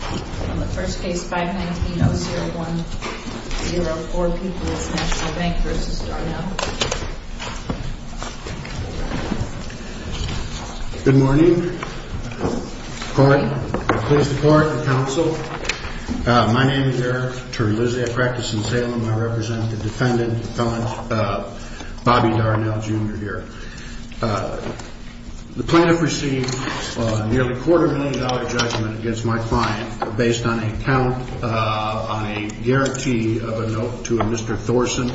On the first case, 519-0104, Peoples National Bank v. Darnell Good morning. Court, please depart the council. My name is Eric Turrilizzi. I practice in Salem. I represent the defendant, Bobby Darnell, Jr. here. The plaintiff received a nearly quarter-million-dollar judgment against my client based on a count on a guarantee of a note to a Mr. Thorson.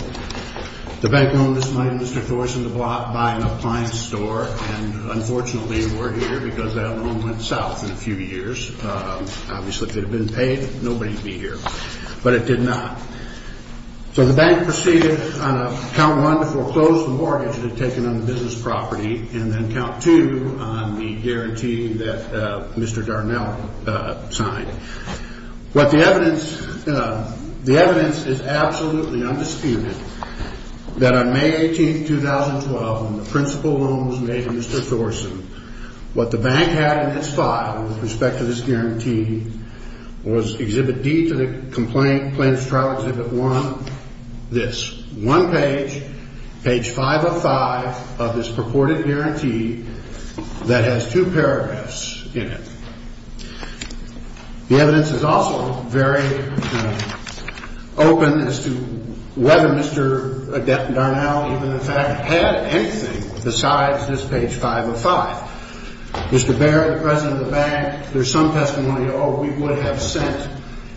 The bank loaned this money to Mr. Thorson to buy an appliance store, and unfortunately, it weren't here because that loan went south in a few years. Obviously, if it had been paid, nobody would be here, but it did not. So the bank proceeded on a count one to foreclose the mortgage it had taken on the business property, and then count two on the guarantee that Mr. Darnell signed. The evidence is absolutely undisputed that on May 18, 2012, when the principal loan was made to Mr. Thorson, what the bank had in its file with respect to this guarantee was Exhibit D to the complaint, Plaintiff's Trial Exhibit 1, this. One page, page 505 of this purported guarantee that has two paragraphs in it. The evidence is also very open as to whether Mr. Darnell even in fact had anything besides this page 505. Mr. Baird, the president of the bank, there's some testimony, oh, we would have sent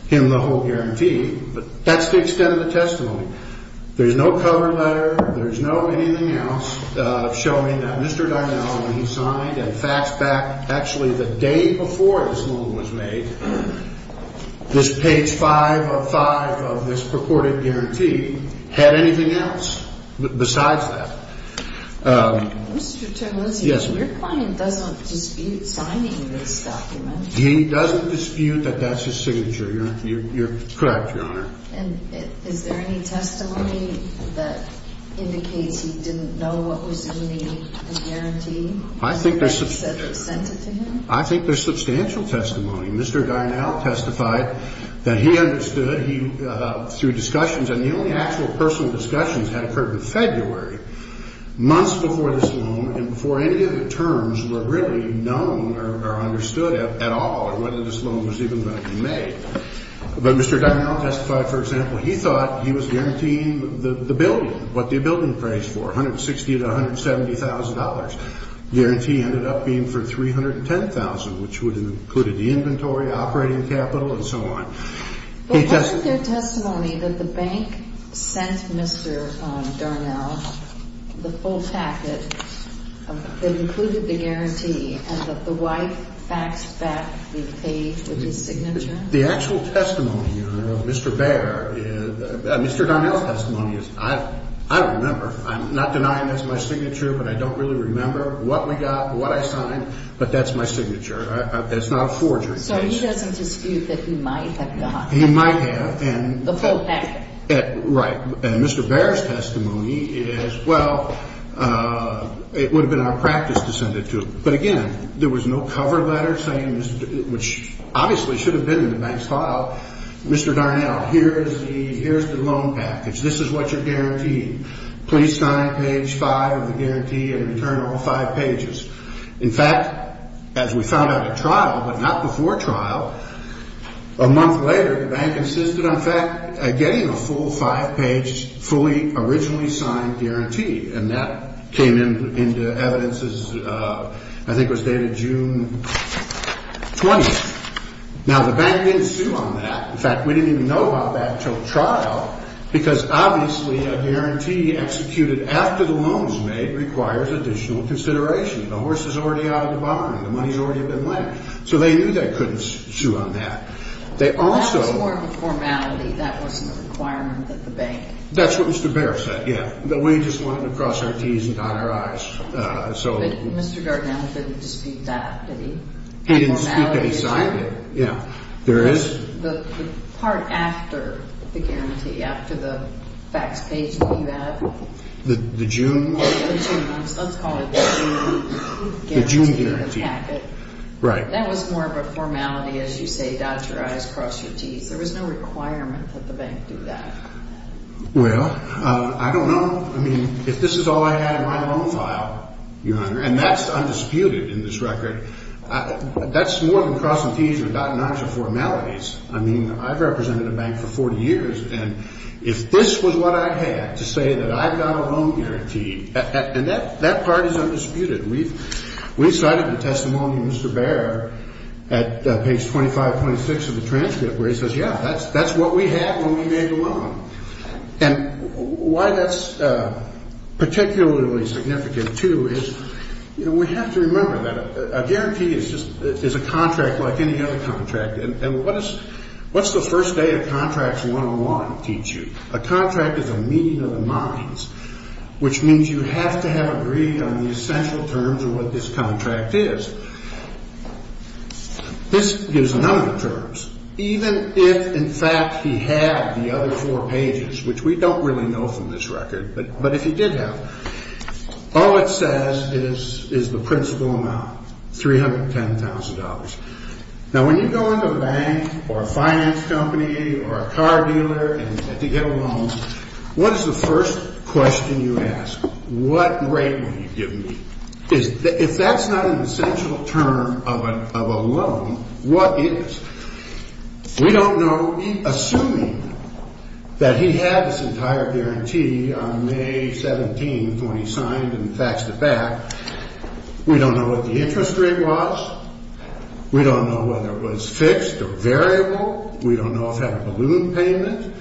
him the whole guarantee, but that's the extent of the testimony. There's no cover letter, there's no anything else showing that Mr. Darnell, when he signed and faxed back actually the day before this loan was made, this page 505 of this purported guarantee had anything else besides that. Mr. Terlizzi, your client doesn't dispute signing this document. He doesn't dispute that that's his signature. You're correct, Your Honor. And is there any testimony that indicates he didn't know what was in the guarantee? I think there's substantial testimony. Mr. Darnell testified that he understood through discussions, and the only actual personal discussions had occurred in February, months before this loan and before any of the terms were really known or understood at all or whether this loan was even going to be made. But Mr. Darnell testified, for example, he thought he was guaranteeing the building, what the building pays for, $160,000 to $170,000. The guarantee ended up being for $310,000, which would have included the inventory, operating capital, and so on. But wasn't there testimony that the bank sent Mr. Darnell the full packet that included the guarantee and that the wife faxed back the pay with his signature? The actual testimony, Your Honor, of Mr. Baer, Mr. Darnell's testimony, I don't remember. I'm not denying that's my signature, but I don't really remember what we got, what I signed, but that's my signature. That's not a forgery case. So he doesn't dispute that he might have gotten it? He might have. The full packet? Right. And Mr. Baer's testimony is, well, it would have been our practice to send it to him. But again, there was no cover letter saying, which obviously should have been in the bank's file, Mr. Darnell, here's the loan package. This is what you're guaranteeing. Please sign page five of the guarantee and return all five pages. In fact, as we found out at trial, but not before trial, a month later, the bank insisted on getting a full five-page, fully originally signed guarantee. And that came into evidence, I think it was dated June 20th. Now, the bank didn't sue on that. In fact, we didn't even know about that until trial because obviously a guarantee executed after the loan is made requires additional consideration. The horse is already out of the barn. The money's already been lent. So they knew they couldn't sue on that. They also – That was more of a formality. That wasn't a requirement that the bank – That's what Mr. Baer said, yeah. That we just wanted to cross our T's and dot our I's. So – But Mr. Darnell didn't dispute that, did he? He didn't dispute that he signed it. Yeah. There is – The part after the guarantee, after the fax page that you have – The June – Let's call it the June guarantee. The June guarantee. Right. That was more of a formality, as you say, dot your I's, cross your T's. There was no requirement that the bank do that. Well, I don't know. I mean, if this is all I had in my loan file, Your Honor, and that's undisputed in this record, that's more than crossing T's or dotting I's are formalities. I mean, I've represented a bank for 40 years, and if this was what I had to say that I've got a loan guarantee – And that part is undisputed. We cited the testimony of Mr. Baer at page 25.6 of the transcript, where he says, yeah, that's what we have when we make a loan. And why that's particularly significant, too, is, you know, we have to remember that a guarantee is just – is a contract like any other contract. And what is – what's the first day of contracts 101 teach you? A contract is a meeting of the minds, which means you have to have agreed on the essential terms of what this contract is. This gives a number of terms. Even if, in fact, he had the other four pages, which we don't really know from this record, but if he did have them, all it says is the principal amount, $310,000. Now, when you go into a bank or a finance company or a car dealer to get a loan, what is the first question you ask? What rate will you give me? If that's not an essential term of a loan, what is? We don't know, assuming that he had this entire guarantee on May 17th when he signed and faxed it back. We don't know what the interest rate was. We don't know whether it was fixed or variable. We don't know if he had a balloon payment.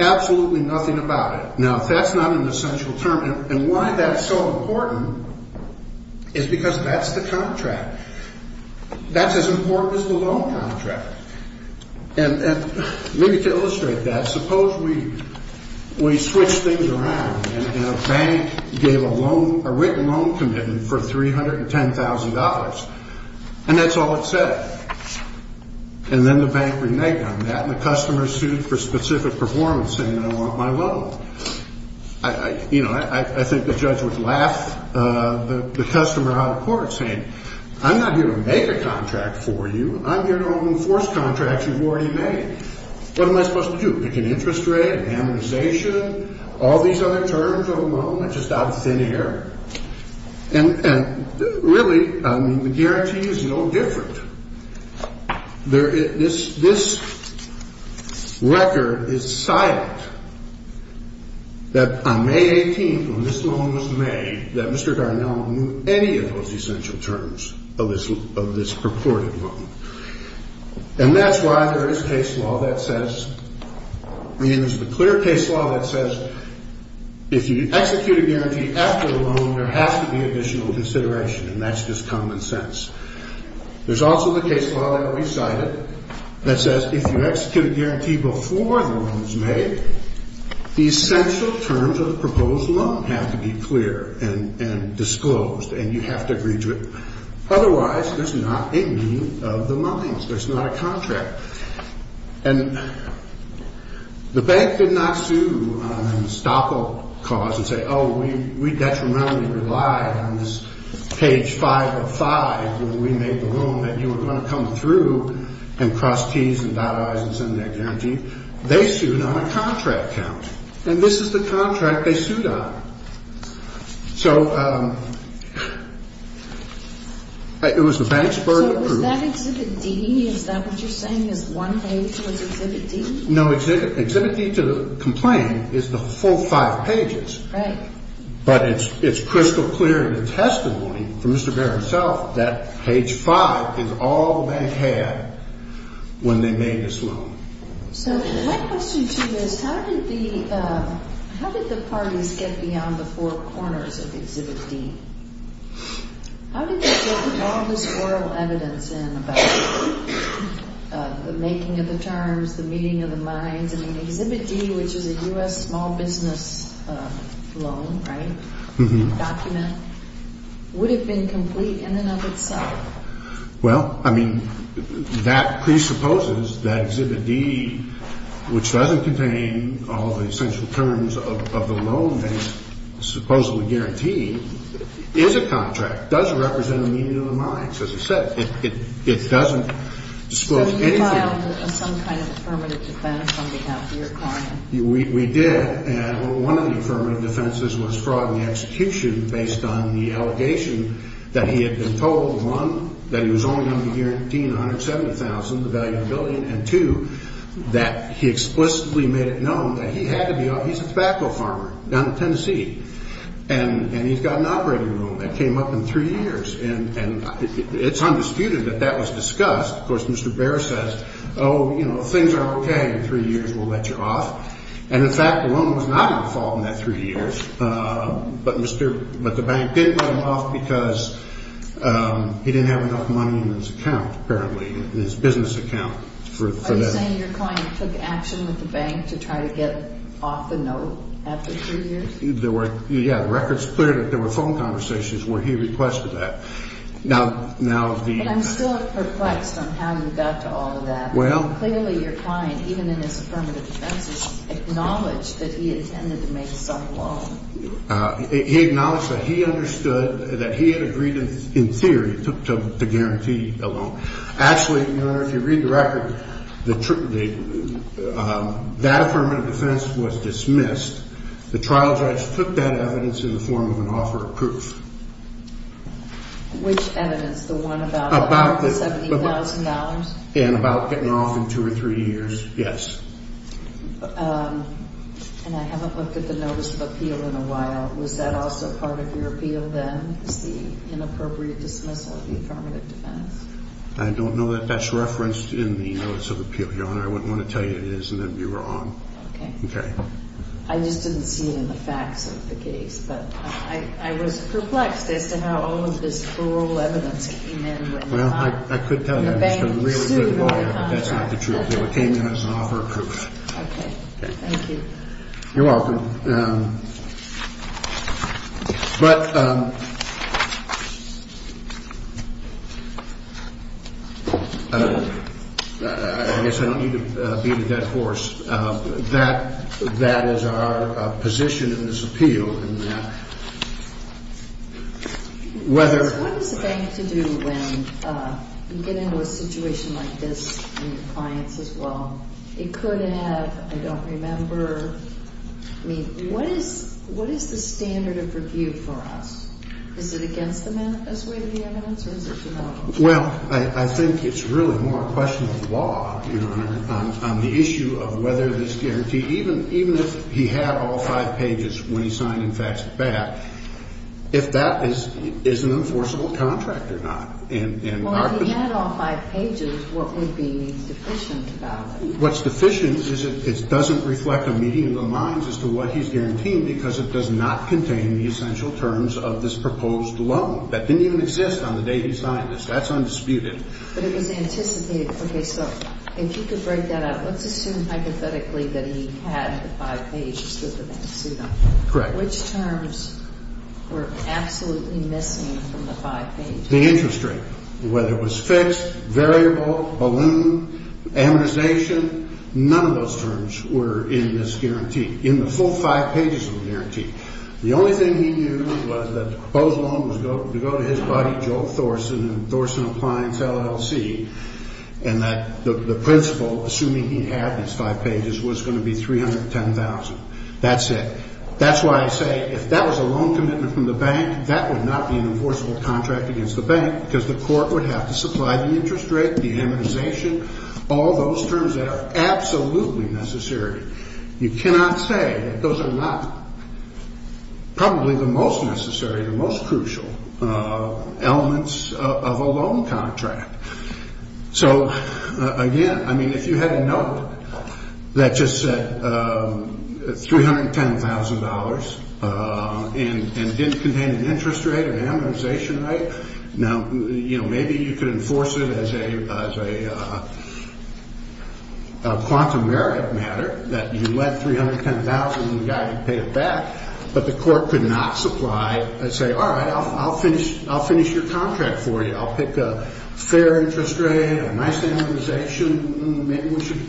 Absolutely nothing about it. Now, if that's not an essential term – and why that's so important is because that's the contract. That's as important as the loan contract. And maybe to illustrate that, suppose we switch things around and a bank gave a written loan commitment for $310,000, and that's all it said. And then the bank reneged on that, and the customer sued for specific performance, saying, I want my loan. I think the judge would laugh the customer out of court, saying, I'm not here to make a contract for you. I'm here to help enforce contracts you've already made. What am I supposed to do, pick an interest rate, an amortization, all these other terms of a loan? I'm just out of thin air. And really, the guarantee is no different. This record is silent that on May 18th, when this loan was made, that Mr. Darnell knew any of those essential terms of this purported loan. And that's why there is case law that says – I mean, there's a clear case law that says if you execute a guarantee after a loan, there has to be additional consideration. And that's just common sense. There's also the case law that we cited that says if you execute a guarantee before the loan is made, the essential terms of the proposed loan have to be clear and disclosed, and you have to agree to it. Otherwise, there's not a meeting of the minds. There's not a contract. And the bank did not sue on an estoppel cause and say, oh, we detrimentally relied on this page 505 when we made the loan that you were going to come through and cross T's and dot I's and send that guarantee. They sued on a contract count. And this is the contract they sued on. So it was the bank's burden of proof. Is that Exhibit D? Is that what you're saying is one page was Exhibit D? No. Exhibit D to the complaint is the full five pages. Right. But it's crystal clear in the testimony from Mr. Baird himself that page five is all the bank had when they made this loan. So my question to you is how did the parties get beyond the four corners of Exhibit D? How did they get all this oral evidence in about the making of the terms, the meeting of the minds? I mean, Exhibit D, which is a U.S. small business loan, right, document, would have been complete in and of itself. Well, I mean, that presupposes that Exhibit D, which doesn't contain all the essential terms of the loan that is supposedly guaranteed, is a contract. It doesn't represent a meeting of the minds. As I said, it doesn't disclose anything. So you filed some kind of affirmative defense on behalf of your client? We did. And one of the affirmative defenses was fraud in the execution based on the allegation that he had been told, one, that he was only going to be guaranteeing $170,000, the value of the building, and two, that he explicitly made it known that he had to be – he's a tobacco farmer down in Tennessee. And he's got an operating loan that came up in three years. And it's undisputed that that was discussed. Of course, Mr. Baird says, oh, you know, if things are okay in three years, we'll let you off. And, in fact, the loan was not going to fall in that three years. But Mr. – but the bank did let him off because he didn't have enough money in his account, apparently, in his business account for that. Are you saying your client took action with the bank to try to get off the note after three years? There were – yeah, the record's clear that there were phone conversations where he requested that. Now, the – But I'm still perplexed on how you got to all of that. Clearly, your client, even in his affirmative defense, acknowledged that he intended to make some loan. He acknowledged that he understood that he had agreed, in theory, to guarantee a loan. Actually, Your Honor, if you read the record, that affirmative defense was dismissed. The trial judge took that evidence in the form of an offer of proof. Which evidence? The one about the $70,000? Yeah, and about getting her off in two or three years. Yes. And I haven't looked at the notice of appeal in a while. Was that also part of your appeal then, was the inappropriate dismissal of the affirmative defense? I don't know that that's referenced in the notice of appeal, Your Honor. I wouldn't want to tell you it is and then be wrong. Okay. Okay. I just didn't see it in the facts of the case. But I was perplexed as to how all of this plural evidence came in when you – Well, I could tell you I was a really good lawyer, but that's not the truth. Okay. It came in as an offer of proof. Okay. Thank you. You're welcome. But I guess I don't need to beat a dead horse. That is our position in this appeal. What does the bank have to do when you get into a situation like this and your clients as well? It could have, I don't remember. I mean, what is the standard of review for us? Is it against the way of the evidence or is it to help us? Well, I think it's really more a question of law, Your Honor, on the issue of whether this guarantee, even if he had all five pages when he signed and faxed it back, if that is an enforceable contract or not. Well, if he had all five pages, what would be deficient about it? What's deficient is it doesn't reflect a meeting of the minds as to what he's guaranteeing because it does not contain the essential terms of this proposed loan. That didn't even exist on the day he signed this. That's undisputed. But it was anticipated. Okay, so if you could break that up, let's assume hypothetically that he had the five pages that the bank sued him. Correct. Which terms were absolutely missing from the five pages? The interest rate, whether it was fixed, variable, balloon, amortization, none of those terms were in this guarantee, in the full five pages of the guarantee. The only thing he knew was that the proposed loan was to go to his buddy, and that the principal, assuming he had these five pages, was going to be $310,000. That's it. That's why I say if that was a loan commitment from the bank, that would not be an enforceable contract against the bank because the court would have to supply the interest rate, the amortization, all those terms that are absolutely necessary. You cannot say that those are not probably the most necessary, the most crucial elements of a loan contract. So, again, I mean, if you had a note that just said $310,000 and didn't contain an interest rate, an amortization rate, now, you know, maybe you could enforce it as a quantum merit matter, that you let $310,000 and the guy would pay it back, but the court could not supply and say, all right, I'll finish your contract for you. I'll pick a fair interest rate, a nice amortization. Maybe we should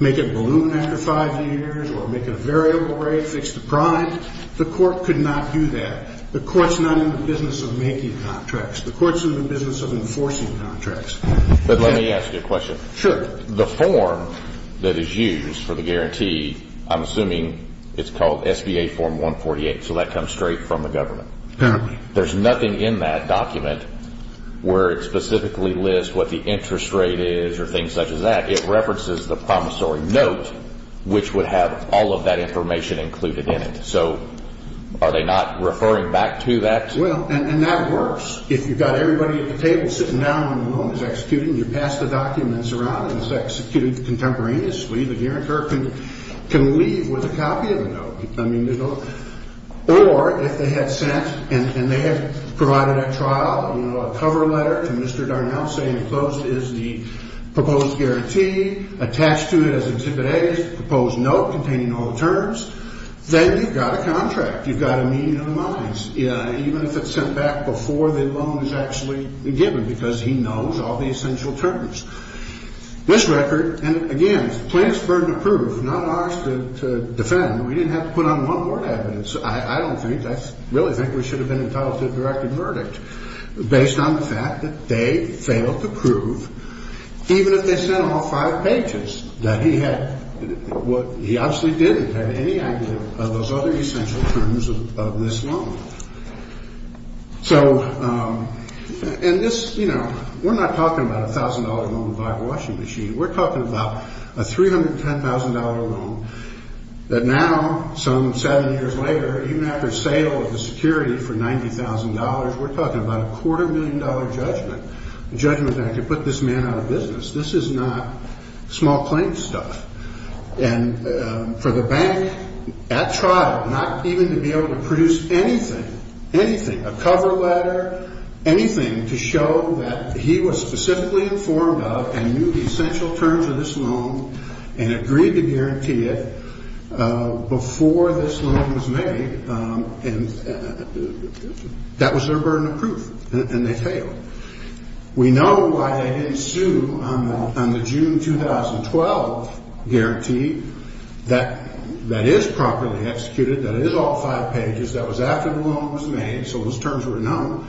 make it balloon after five years or make it a variable rate, fix the prime. The court could not do that. The court's not in the business of making contracts. The court's in the business of enforcing contracts. But let me ask you a question. Sure. The form that is used for the guarantee, I'm assuming it's called SBA Form 148, so that comes straight from the government. Apparently. There's nothing in that document where it specifically lists what the interest rate is or things such as that. It references the promissory note, which would have all of that information included in it. So are they not referring back to that? Well, and that works. If you've got everybody at the table sitting down when the loan is executed and you pass the documents around and it's executed contemporaneously, the guarantor can leave with a copy of the note. Or if they had sent and they had provided at trial, you know, a cover letter to Mr. Darnell saying enclosed is the proposed guarantee, attached to it as exhibit A is the proposed note containing all the terms, then you've got a contract. You've got a meeting of the minds, even if it's sent back before the loan is actually given because he knows all the essential terms. This record, and again, plaintiff's burden of proof, not ours to defend. We didn't have to put on one word evidence. I don't think, I really think we should have been entitled to a directed verdict based on the fact that they failed to prove, even if they sent all five pages, that he had what he obviously didn't have any idea of those other essential terms of this loan. So, and this, you know, we're not talking about a $1,000 loan by the washing machine. We're talking about a $310,000 loan that now, some seven years later, even after sale of the security for $90,000, we're talking about a quarter million dollar judgment, a judgment that could put this man out of business. This is not small claim stuff. And for the bank, at trial, not even to be able to produce anything, anything, a cover letter, anything to show that he was specifically informed of and knew the essential terms of this loan and agreed to guarantee it before this loan was made, that was their burden of proof, and they failed. We know why they didn't sue on the June 2012 guarantee that is properly executed, that is all five pages, that was after the loan was made, so those terms were known,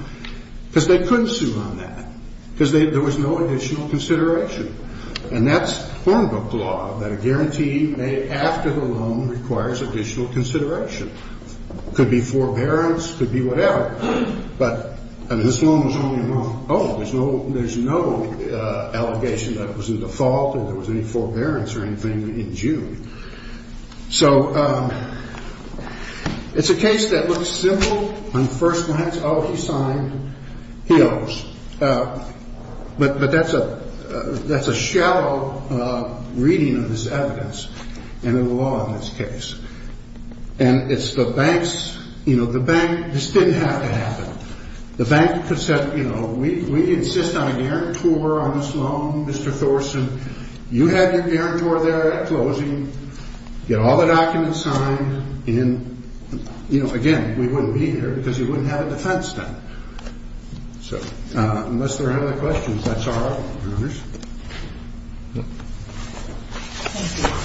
because they couldn't sue on that, because there was no additional consideration. And that's Hornbook law, that a guarantee made after the loan requires additional consideration. Could be forbearance, could be whatever, but, I mean, this loan was only a month old. There's no allegation that it was a default or there was any forbearance or anything in June. So it's a case that looks simple on the first glance. Oh, he signed. He owes. But that's a shallow reading of this evidence and of the law in this case. And it's the bank's, you know, the bank, this didn't have to happen. The bank could have said, you know, we insist on a guarantor on this loan, Mr. Thorson. You have your guarantor there at closing. Get all the documents signed. And, you know, again, we wouldn't be here because you wouldn't have a defense done. So unless there are any other questions, that's all right, Your Honors.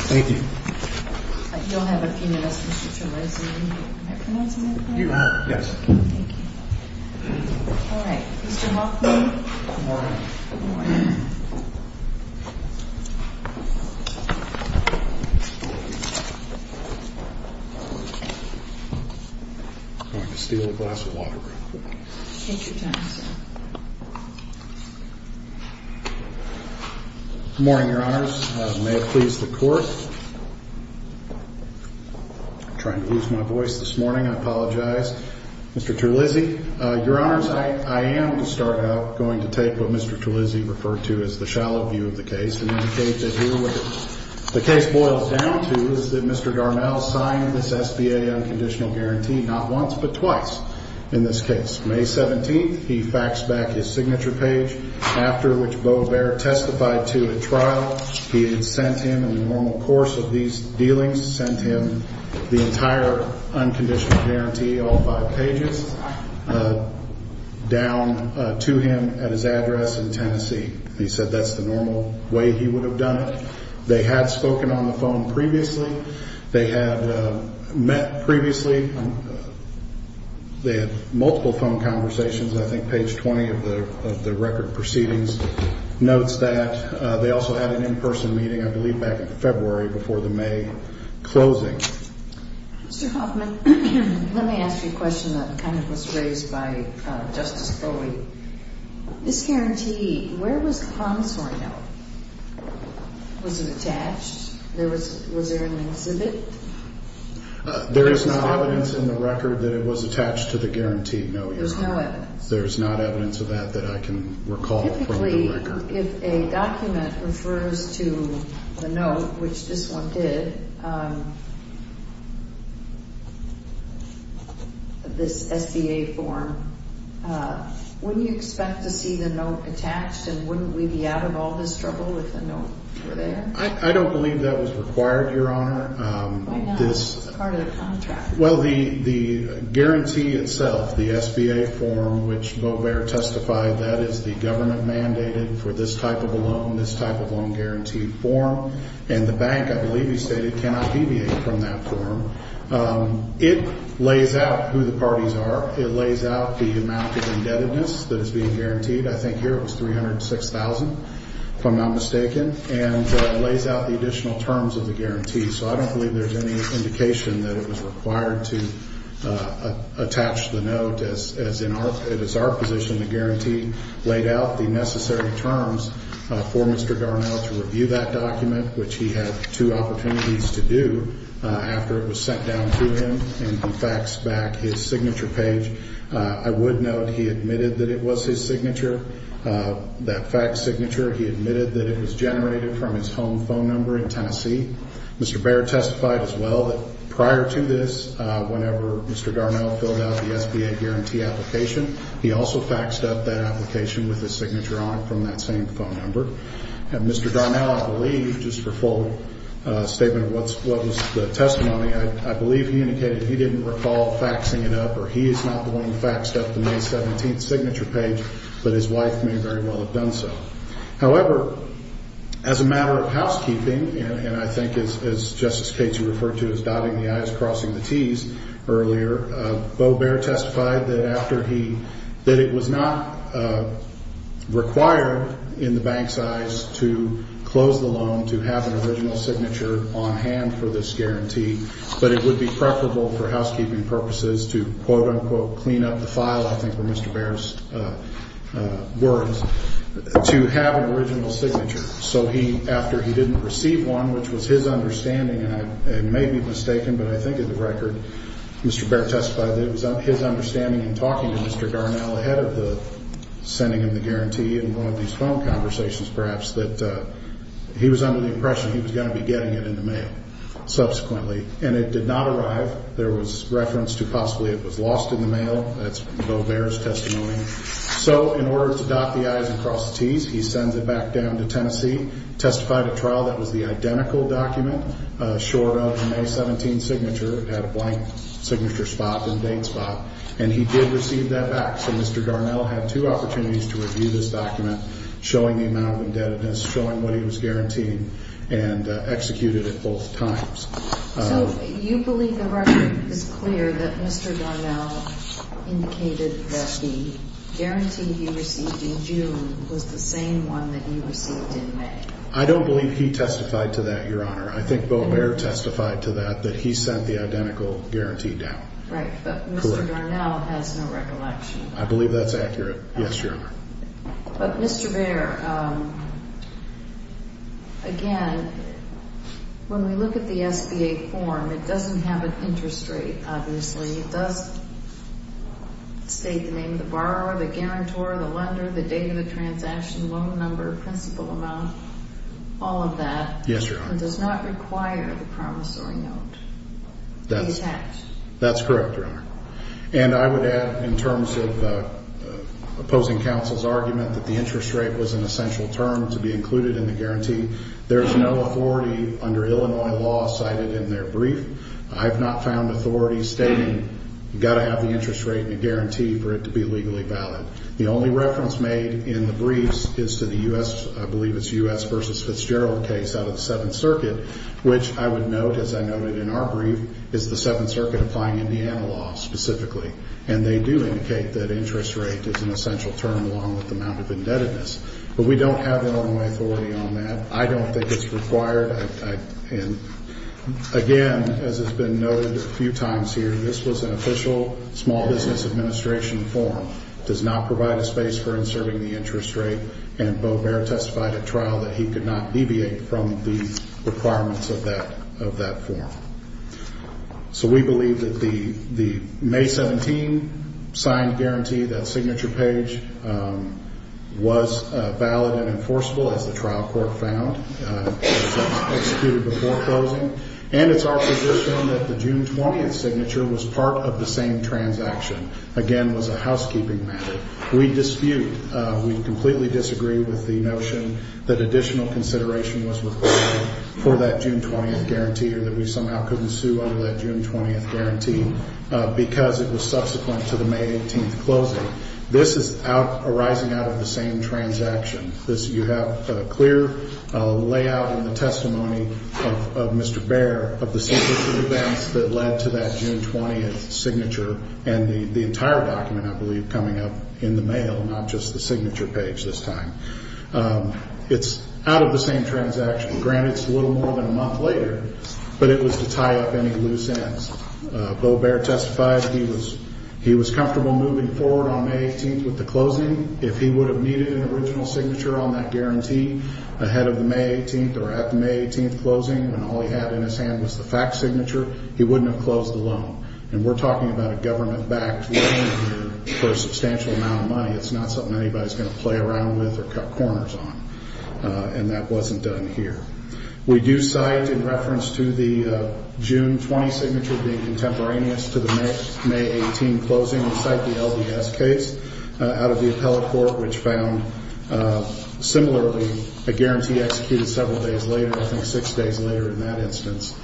Thank you. Thank you. You don't have an opinion as to the situation? Am I pronouncing that correctly? You are, yes. Thank you. All right, Mr. Hoffman. Good morning. Good morning. I'm going to steal a glass of water real quick. Take your time, sir. Good morning, Your Honors. May it please the Court. I'm trying to lose my voice this morning. I apologize. Mr. Terlizzi, Your Honors, I am, to start out, going to take what Mr. Terlizzi referred to as the shallow view of the case The case boils down to is that Mr. Darnell signed this SBA unconditional guarantee not once, but twice in this case. May 17th, he faxed back his signature page, after which Beau Baird testified to a trial. He had sent him, in the normal course of these dealings, sent him the entire unconditional guarantee, all five pages, down to him at his address in Tennessee. He said that's the normal way he would have done it. They had spoken on the phone previously. They had met previously. They had multiple phone conversations. I think page 20 of the record proceedings notes that. They also had an in-person meeting, I believe, back in February before the May closing. Mr. Hoffman, let me ask you a question that kind of was raised by Justice Foley. This guarantee, where was the promissory note? Was it attached? Was there an exhibit? There is no evidence in the record that it was attached to the guaranteed note yet. There's no evidence? There's not evidence of that that I can recall from the record. If a document refers to the note, which this one did, this SBA form, wouldn't you expect to see the note attached? And wouldn't we be out of all this trouble if the note were there? I don't believe that was required, Your Honor. Why not? It's part of the contract. Well, the guarantee itself, the SBA form, which Beau Baird testified that is the government mandated for this type of a loan, this type of loan guarantee form, and the bank, I believe he stated, cannot deviate from that form. It lays out who the parties are. It lays out the amount of indebtedness that is being guaranteed. I think here it was $306,000, if I'm not mistaken, and it lays out the additional terms of the guarantee. So I don't believe there's any indication that it was required to attach the note. It is our position the guarantee laid out the necessary terms for Mr. Darnell to review that document, which he had two opportunities to do after it was sent down to him and he faxed back his signature page. I would note he admitted that it was his signature, that fax signature. He admitted that it was generated from his home phone number in Tennessee. Mr. Baird testified as well that prior to this, whenever Mr. Darnell filled out the SBA guarantee application, he also faxed up that application with his signature on it from that same phone number. And Mr. Darnell, I believe, just for full statement of what was the testimony, I believe he indicated he didn't recall faxing it up or he is not the one who faxed up the May 17th signature page, but his wife may very well have done so. However, as a matter of housekeeping, and I think as Justice Cates you referred to as dotting the I's, crossing the T's earlier, Beau Baird testified that after he, that it was not required in the bank's eyes to close the loan, to have an original signature on hand for this guarantee, but it would be preferable for housekeeping purposes to quote, unquote, clean up the file, I think were Mr. Baird's words, to have an original signature. So he, after he didn't receive one, which was his understanding, and it may be mistaken, but I think in the record Mr. Baird testified that it was his understanding in talking to Mr. Darnell ahead of the sending him the guarantee in one of these phone conversations perhaps, that he was under the impression he was going to be getting it in the mail subsequently. And it did not arrive. There was reference to possibly it was lost in the mail. That's Beau Baird's testimony. So in order to dot the I's and cross the T's, he sends it back down to Tennessee, testified at trial that it was the identical document, short of an A-17 signature, had a blank signature spot and date spot, and he did receive that back. So Mr. Darnell had two opportunities to review this document, showing the amount of indebtedness, showing what he was guaranteeing, and executed it both times. So you believe the record is clear that Mr. Darnell indicated that the guarantee he received in June was the same one that he received in May? I don't believe he testified to that, Your Honor. I think Beau Baird testified to that, that he sent the identical guarantee down. Right, but Mr. Darnell has no recollection. I believe that's accurate. Yes, Your Honor. But, Mr. Baird, again, when we look at the SBA form, it doesn't have an interest rate, obviously. It does state the name of the borrower, the guarantor, the lender, the date of the transaction, loan number, principal amount, all of that. Yes, Your Honor. It does not require the promissory note to be attached. That's correct, Your Honor. And I would add, in terms of opposing counsel's argument that the interest rate was an essential term to be included in the guarantee, there's no authority under Illinois law cited in their brief. I've not found authority stating you've got to have the interest rate in the guarantee for it to be legally valid. The only reference made in the briefs is to the U.S. I believe it's U.S. v. Fitzgerald case out of the Seventh Circuit, which I would note, as I noted in our brief, is the Seventh Circuit applying Indiana law specifically. And they do indicate that interest rate is an essential term along with the amount of indebtedness. But we don't have Illinois authority on that. I don't think it's required. And, again, as has been noted a few times here, this was an official small business administration form. It does not provide a space for inserting the interest rate, and Beau Behr testified at trial that he could not deviate from the requirements of that form. So we believe that the May 17 signed guarantee, that signature page, was valid and enforceable, as the trial court found. It was executed before closing. And it's our position that the June 20 signature was part of the same transaction. Again, it was a housekeeping matter. We dispute, we completely disagree with the notion that additional consideration was required for that June 20 guarantee or that we somehow couldn't sue under that June 20 guarantee because it was subsequent to the May 18 closing. This is arising out of the same transaction. You have a clear layout in the testimony of Mr. Behr of the signature events that led to that June 20 signature. And the entire document, I believe, coming up in the mail, not just the signature page this time. It's out of the same transaction. Granted, it's a little more than a month later, but it was to tie up any loose ends. Beau Behr testified he was comfortable moving forward on May 18 with the closing. If he would have needed an original signature on that guarantee ahead of the May 18 or at the May 18 closing when all he had in his hand was the fact signature, he wouldn't have closed the loan. And we're talking about a government-backed loan here for a substantial amount of money. It's not something anybody's going to play around with or cut corners on. And that wasn't done here. We do cite in reference to the June 20 signature being contemporaneous to the May 18 closing, we cite the LDS case out of the appellate court which found similarly a guarantee executed several days later, I think six days later in that instance.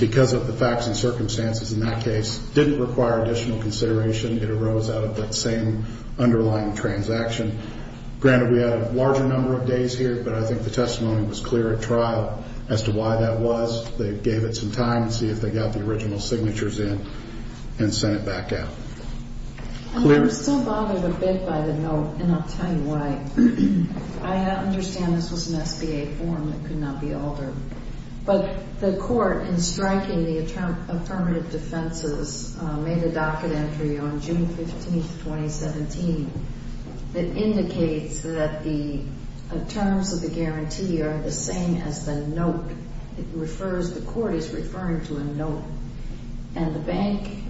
Because of the facts and circumstances in that case, it didn't require additional consideration. It arose out of that same underlying transaction. Granted, we had a larger number of days here, but I think the testimony was clear at trial as to why that was. They gave it some time to see if they got the original signatures in and sent it back out. I'm still bothered a bit by the note, and I'll tell you why. I understand this was an SBA form that could not be altered. But the court, in striking the affirmative defenses, made a docket entry on June 15, 2017, that indicates that the terms of the guarantee are the same as the note. It refers, the court is referring to a note. And the bank,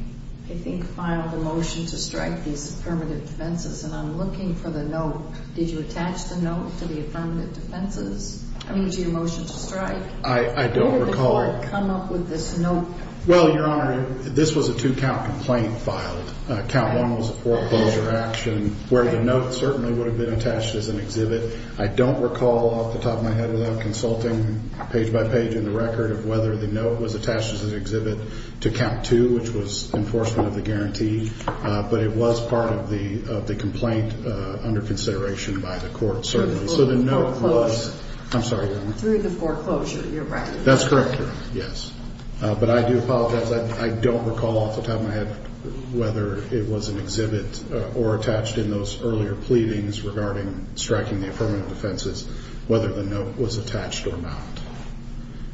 I think, filed a motion to strike these affirmative defenses, and I'm looking for the note. Did you attach the note to the affirmative defenses? I need you to motion to strike. I don't recall. Where did the court come up with this note? Well, Your Honor, this was a two-count complaint filed. Count one was a foreclosure action where the note certainly would have been attached as an exhibit. I don't recall off the top of my head without consulting page by page in the record of whether the note was attached as an exhibit to count two, which was enforcement of the guarantee. But it was part of the complaint under consideration by the court, certainly. So the note was... Through the foreclosure. I'm sorry, Your Honor. Through the foreclosure, you're right. That's correct, Your Honor, yes. But I do apologize. I don't recall off the top of my head whether it was an exhibit or attached in those earlier pleadings regarding striking the affirmative defenses, whether the note was attached or not.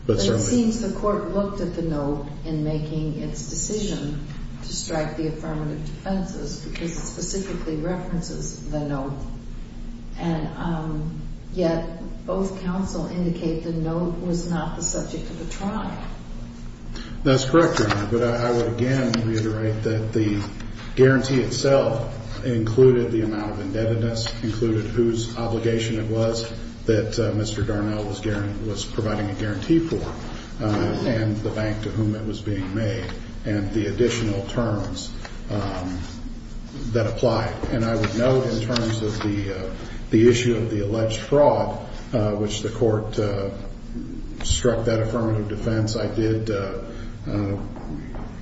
But it seems the court looked at the note in making its decision to strike the affirmative defenses because it specifically references the note. And yet both counsel indicate the note was not the subject of the trial. That's correct, Your Honor. But I would again reiterate that the guarantee itself included the amount of indebtedness, included whose obligation it was that Mr. Darnell was providing a guarantee for, and the bank to whom it was being made, and the additional terms that apply. And I would note in terms of the issue of the alleged fraud, which the court struck that affirmative defense, I did,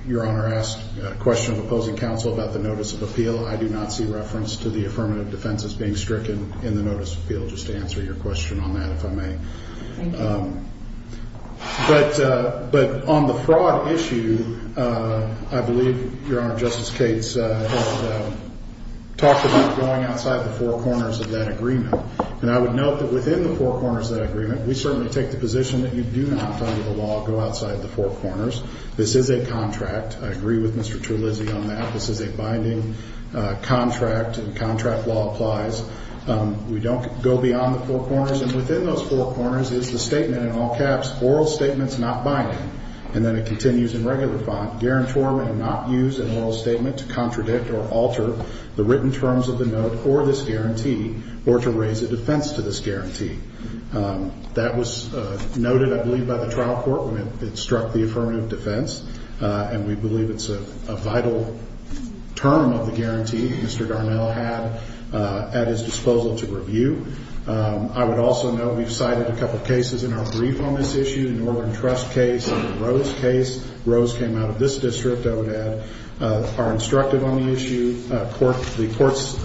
Your Honor, ask a question of opposing counsel about the notice of appeal. I do not see reference to the affirmative defenses being stricken in the notice of appeal. Just to answer your question on that, if I may. Thank you. But on the fraud issue, I believe Your Honor, Justice Cates talked about going outside the four corners of that agreement. And I would note that within the four corners of that agreement, we certainly take the position that you do not, under the law, go outside the four corners. This is a contract. I agree with Mr. Terlizzi on that. This is a binding contract, and contract law applies. We don't go beyond the four corners. And within those four corners is the statement in all caps, ORAL STATEMENTS NOT BINDING, and then it continues in regular font, GUARANTORMENT NOT USED IN ORAL STATEMENT TO CONTRADICT OR ALTER THE WRITTEN TERMS OF THE NOTE FOR THIS GUARANTEE OR TO RAISE A DEFENSE TO THIS GUARANTEE. That was noted, I believe, by the trial court when it struck the affirmative defense, and we believe it's a vital term of the guarantee that Mr. Darnell had at his disposal to review. I would also note we've cited a couple cases in our brief on this issue, the Northern Trust case and the Rose case. Rose came out of this district, I would add. Our instructive on the issue, the courts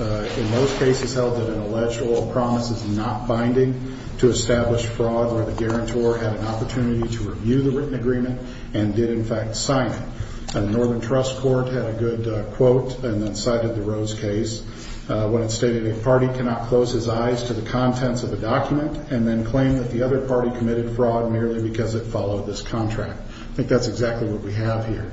in those cases held that an alleged oral promise is not binding to establish fraud where the guarantor had an opportunity to review the written agreement and did, in fact, sign it. And the Northern Trust court had a good quote and then cited the Rose case when it stated a party cannot close his eyes to the contents of a document and then claim that the other party committed fraud merely because it followed this contract. I think that's exactly what we have here.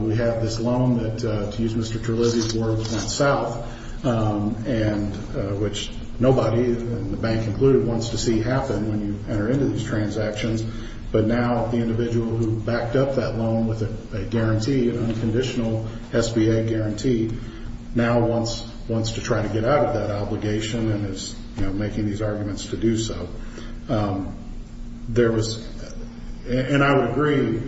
We have this loan that, to use Mr. Terlizzi's words, went south, and which nobody, the bank included, wants to see happen when you enter into these transactions. But now the individual who backed up that loan with a guarantee, an unconditional SBA guarantee, now wants to try to get out of that obligation and is making these arguments to do so. There was, and I would agree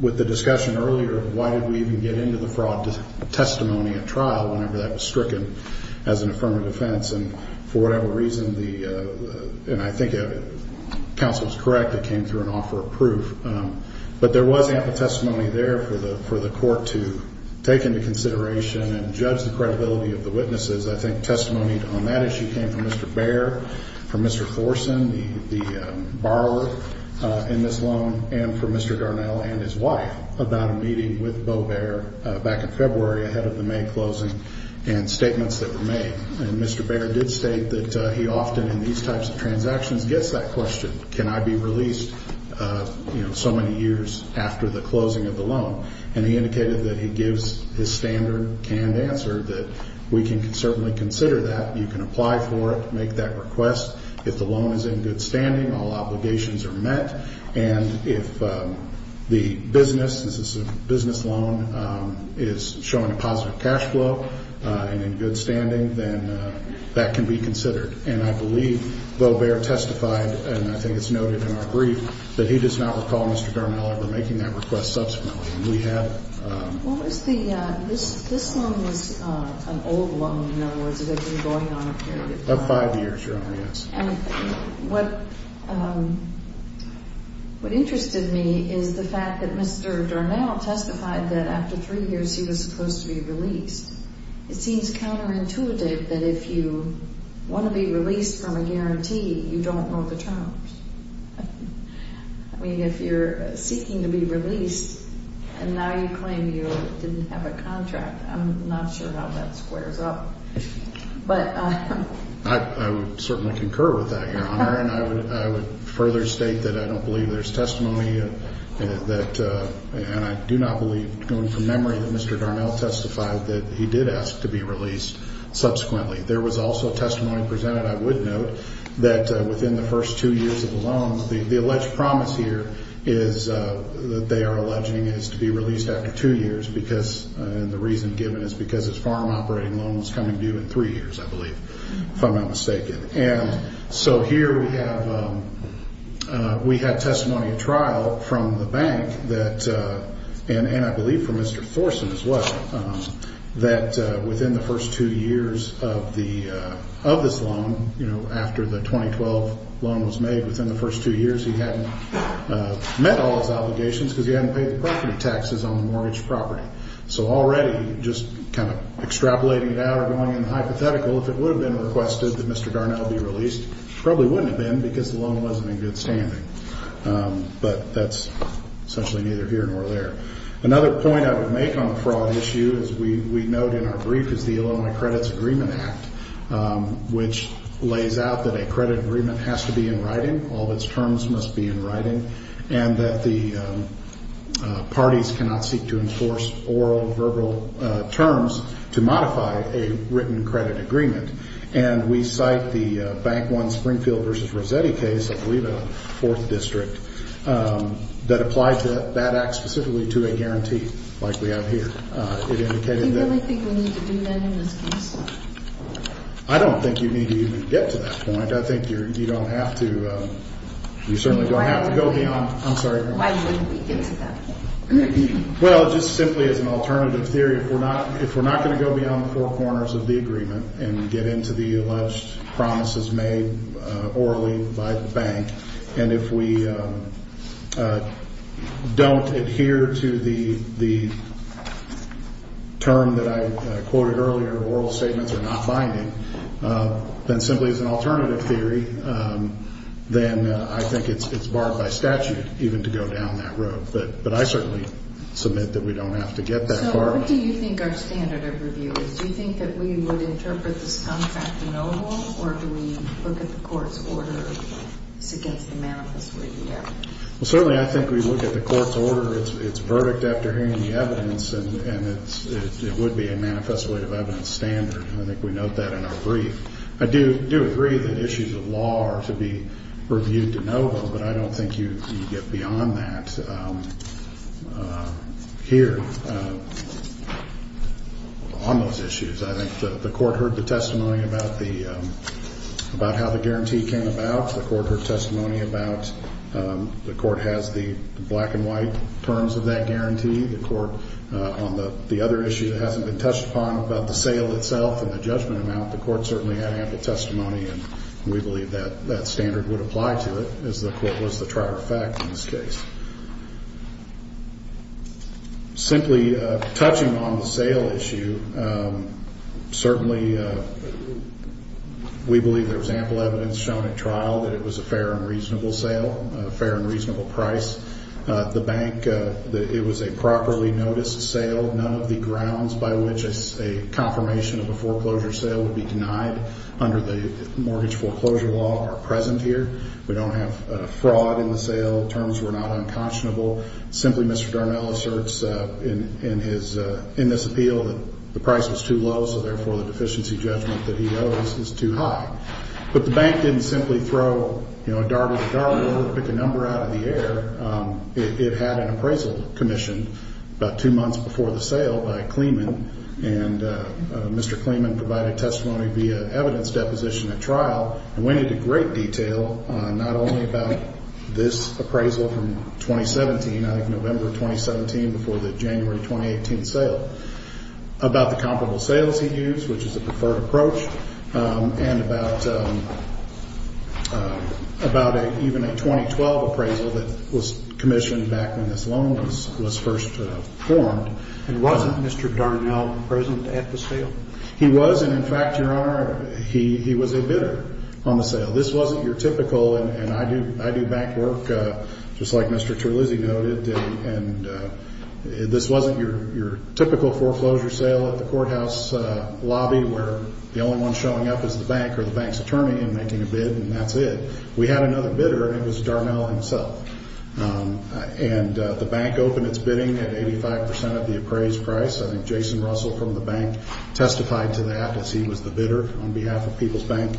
with the discussion earlier, why did we even get into the fraud testimony at trial whenever that was stricken as an affirmative offense? And for whatever reason, and I think counsel is correct, it came through an offer of proof. But there was ample testimony there for the court to take into consideration and judge the credibility of the witnesses. I think testimony on that issue came from Mr. Baer, from Mr. Forsen, the borrower in this loan, and from Mr. Garnell and his wife about a meeting with Beau Baer back in February ahead of the May closing and statements that were made. And Mr. Baer did state that he often, in these types of transactions, gets that question, can I be released so many years after the closing of the loan? And he indicated that he gives his standard canned answer that we can certainly consider that, you can apply for it, make that request. If the loan is in good standing, all obligations are met. And if the business, this is a business loan, is showing a positive cash flow and in good standing, then that can be considered. And I believe Beau Baer testified, and I think it's noted in our brief, that he does not recall Mr. Garnell ever making that request subsequently. And we have it. What was the ñ this loan was an old loan, in other words. It had been going on a period of time. Of five years, Your Honor, yes. And what interested me is the fact that Mr. Garnell testified that after three years he was supposed to be released. It seems counterintuitive that if you want to be released from a guarantee, you don't know the terms. I mean, if you're seeking to be released and now you claim you didn't have a contract, I'm not sure how that squares up. But ñ I would certainly concur with that, Your Honor. And I would further state that I don't believe there's testimony that ñ that he did ask to be released subsequently. There was also testimony presented, I would note, that within the first two years of the loan, the alleged promise here is that they are alleging is to be released after two years because ñ and the reason given is because his farm operating loan was coming due in three years, I believe, if I'm not mistaken. And so here we have ñ we had testimony at trial from the bank that ñ that within the first two years of the ñ of this loan, you know, after the 2012 loan was made, within the first two years he hadn't met all his obligations because he hadn't paid the property taxes on the mortgage property. So already just kind of extrapolating it out or going in the hypothetical, if it would have been requested that Mr. Garnell be released, probably wouldn't have been because the loan wasn't in good standing. But that's essentially neither here nor there. Another point I would make on the fraud issue, as we note in our brief, is the Illinois Credits Agreement Act, which lays out that a credit agreement has to be in writing, all of its terms must be in writing, and that the parties cannot seek to enforce oral, verbal terms to modify a written credit agreement. And we cite the Bank One Springfield v. Rossetti case, I believe a fourth district, that applied to that act specifically to a guarantee like we have here. It indicated that ñ Do you really think we need to do that in this case? I don't think you need to even get to that point. I think you don't have to ñ you certainly don't have to go beyond ñ I'm sorry. Why didn't we get to that point? Well, just simply as an alternative theory, if we're not going to go beyond the four corners of the agreement and get into the alleged promises made orally by the bank, and if we don't adhere to the term that I quoted earlier, oral statements are not binding, then simply as an alternative theory, then I think it's barred by statute even to go down that road. But I certainly submit that we don't have to get that far. So what do you think our standard of review is? Do you think that we would interpret this contract de novo, or do we look at the court's order as against the manifest way of the evidence? Well, certainly I think we look at the court's order, its verdict after hearing the evidence, and it would be a manifest way of evidence standard. I think we note that in our brief. I do agree that issues of law are to be reviewed de novo, but I don't think you get beyond that here on those issues. I think the court heard the testimony about how the guarantee came about. The court heard testimony about the court has the black and white terms of that guarantee. The court, on the other issue that hasn't been touched upon about the sale itself and the judgment amount, the court certainly had ample testimony, and we believe that that standard would apply to it, as the court was the trier of fact in this case. Simply touching on the sale issue, certainly we believe there was ample evidence shown at trial that it was a fair and reasonable sale, a fair and reasonable price. The bank, it was a properly noticed sale. None of the grounds by which a confirmation of a foreclosure sale would be denied under the mortgage foreclosure law are present here. We don't have fraud in the sale. Terms were not unconscionable. Simply Mr. Darnell asserts in this appeal that the price was too low, so therefore the deficiency judgment that he owes is too high. But the bank didn't simply throw a dart at the dart board or pick a number out of the air. It had an appraisal commissioned about two months before the sale by Kleeman, and Mr. Kleeman provided testimony via evidence deposition at trial, and went into great detail not only about this appraisal from 2017, I think November of 2017 before the January 2018 sale, about the comparable sales he used, which is a preferred approach, and about even a 2012 appraisal that was commissioned back when this loan was first formed. And wasn't Mr. Darnell present at the sale? He was, and in fact, Your Honor, he was a bidder on the sale. This wasn't your typical, and I do bank work just like Mr. Terlizzi noted, and this wasn't your typical foreclosure sale at the courthouse lobby where the only one showing up is the bank or the bank's attorney in making a bid, and that's it. We had another bidder, and it was Darnell himself. And the bank opened its bidding at 85% of the appraised price. I think Jason Russell from the bank testified to that, as he was the bidder on behalf of People's Bank.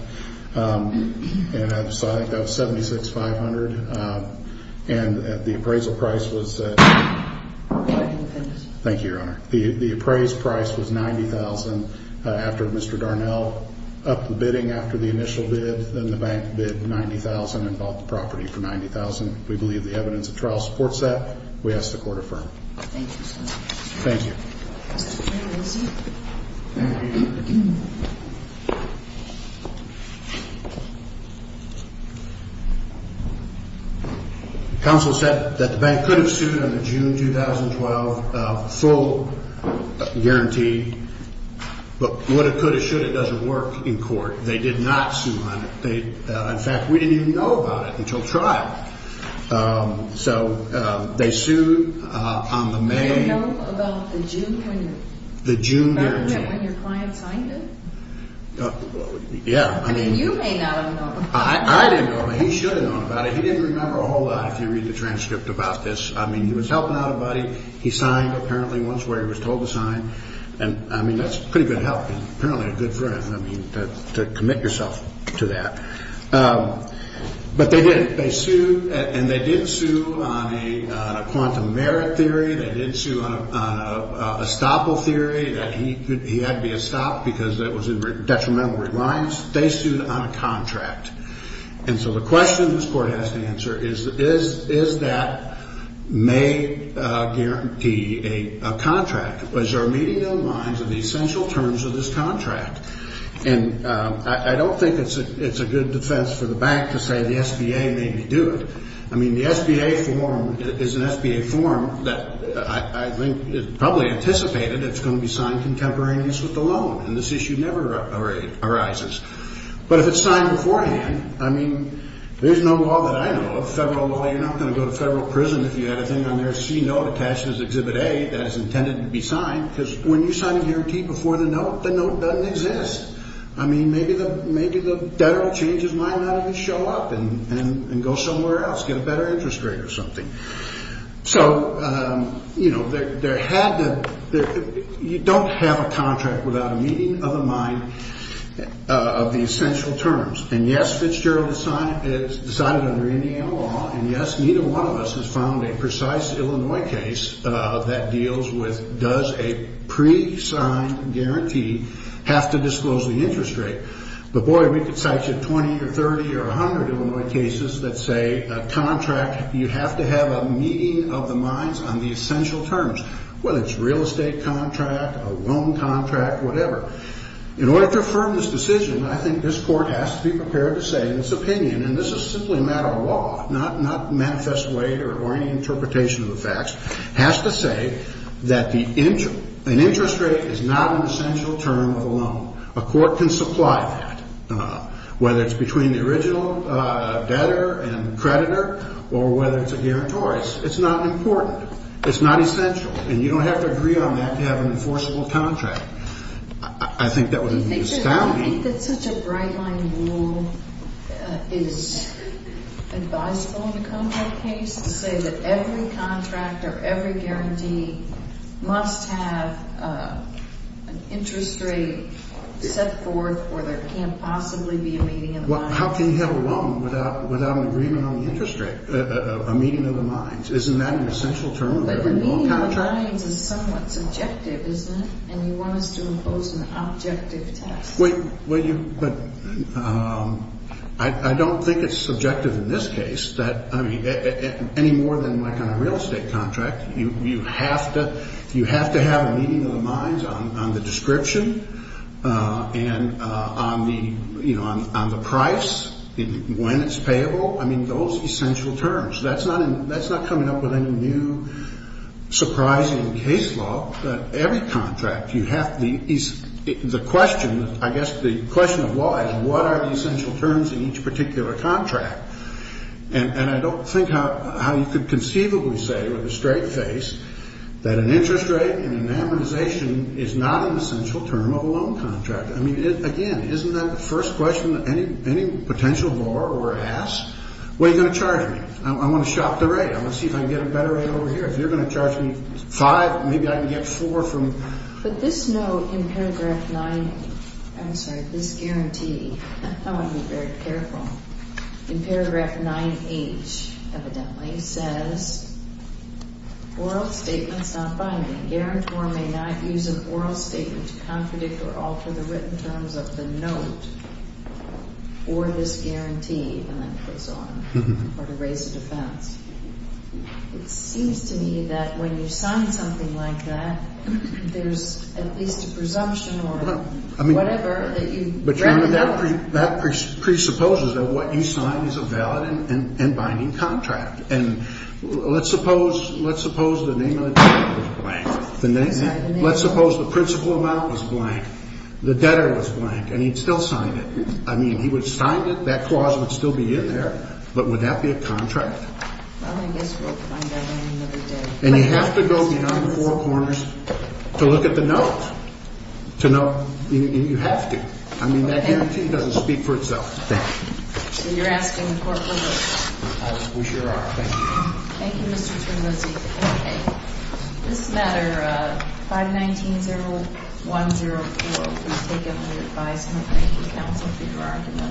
And I think that was $76,500. And the appraisal price was $90,000. After Mr. Darnell upped the bidding after the initial bid, then the bank bid $90,000 and bought the property for $90,000. We believe the evidence of trial supports that. We ask the Court to affirm. Thank you so much. Thank you. Mr. Terlizzi. Counsel said that the bank could have sued on the June 2012 full guarantee, but would have, could have, should have, doesn't work in court. They did not sue on it. In fact, we didn't even know about it until trial. So they sued on the May… Did you know about the June guarantee when your client signed it? Yeah. You may not have known about it. I didn't know about it. He should have known about it. He didn't remember a whole lot if you read the transcript about this. I mean, he was helping out a buddy. He signed, apparently, once where he was told to sign. And, I mean, that's pretty good help. He's apparently a good friend. I mean, to commit yourself to that. But they did, they sued, and they did sue on a quantum merit theory. They did sue on a Stopple theory. He had to be a stop because it was in detrimental reliance. They sued on a contract. And so the question this court has to answer is, is that May guarantee a contract? Was there a meeting in the minds of the essential terms of this contract? And I don't think it's a good defense for the bank to say the SBA made me do it. I mean, the SBA form is an SBA form that I think probably anticipated that it's going to be signed contemporaneously with the loan. And this issue never arises. But if it's signed beforehand, I mean, there's no law that I know of, federal law, you're not going to go to federal prison if you had a thing on there, a C note attached as Exhibit A that is intended to be signed. Because when you sign a guarantee before the note, the note doesn't exist. I mean, maybe the debtor will change his mind and not even show up and go somewhere else, get a better interest rate or something. So, you know, you don't have a contract without a meeting of the mind of the essential terms. And, yes, Fitzgerald is signed under Indiana law. And, yes, neither one of us has found a precise Illinois case that deals with, does a pre-signed guarantee have to disclose the interest rate? But, boy, we could cite you 20 or 30 or 100 Illinois cases that say a contract, you have to have a meeting of the minds on the essential terms, whether it's a real estate contract, a loan contract, whatever. In order to affirm this decision, I think this Court has to be prepared to say in its opinion, and this is simply a matter of law, not manifest weight or any interpretation of the facts, has to say that an interest rate is not an essential term of a loan. A court can supply that, whether it's between the original debtor and creditor or whether it's a guarantor. It's not important. It's not essential. And you don't have to agree on that to have an enforceable contract. I think that would be astounding. I think that such a bright-line rule is advisable in a contract case to say that every contract or every guarantee must have an interest rate set forth or there can't possibly be a meeting of the mind. How can you have a loan without an agreement on the interest rate, a meeting of the minds? Isn't that an essential term of a loan contract? But the meeting of the minds is somewhat subjective, isn't it? And you want us to impose an objective test. But I don't think it's subjective in this case, any more than like on a real estate contract. You have to have a meeting of the minds on the description and on the price, when it's payable. I mean, those essential terms. That's not coming up with any new surprising case law. But every contract, you have to be the question, I guess the question of law is, what are the essential terms in each particular contract? And I don't think how you could conceivably say with a straight face that an interest rate and an amortization is not an essential term of a loan contract. I mean, again, isn't that the first question that any potential borrower asks? What are you going to charge me? I want to shop the rate. I want to see if I can get a better rate over here. If you're going to charge me 5, maybe I can get 4 from you. But this note in paragraph 9, I'm sorry, this guarantee, I want to be very careful. In paragraph 9H, evidently, says, Oral statements not binding. Guarantor may not use an oral statement to contradict or alter the written terms of the note or this guarantee, and that goes on, or to raise a defense. It seems to me that when you sign something like that, there's at least a presumption or whatever that you recommend. I mean, that presupposes that what you sign is a valid and binding contract. And let's suppose the name of the debtor was blank. Let's suppose the principal amount was blank, the debtor was blank, and he'd still sign it. I mean, he would sign it, that clause would still be in there, but would that be a contract? Well, I guess we'll find out another day. And you have to go beyond the four corners to look at the note. To know, you have to. I mean, that guarantee doesn't speak for itself. Thank you. So you're asking the court to look? We sure are. Thank you. Thank you, Mr. Terzi. Okay. This matter, 519-0104, please take it under advisement. Thank you, counsel, for your argument.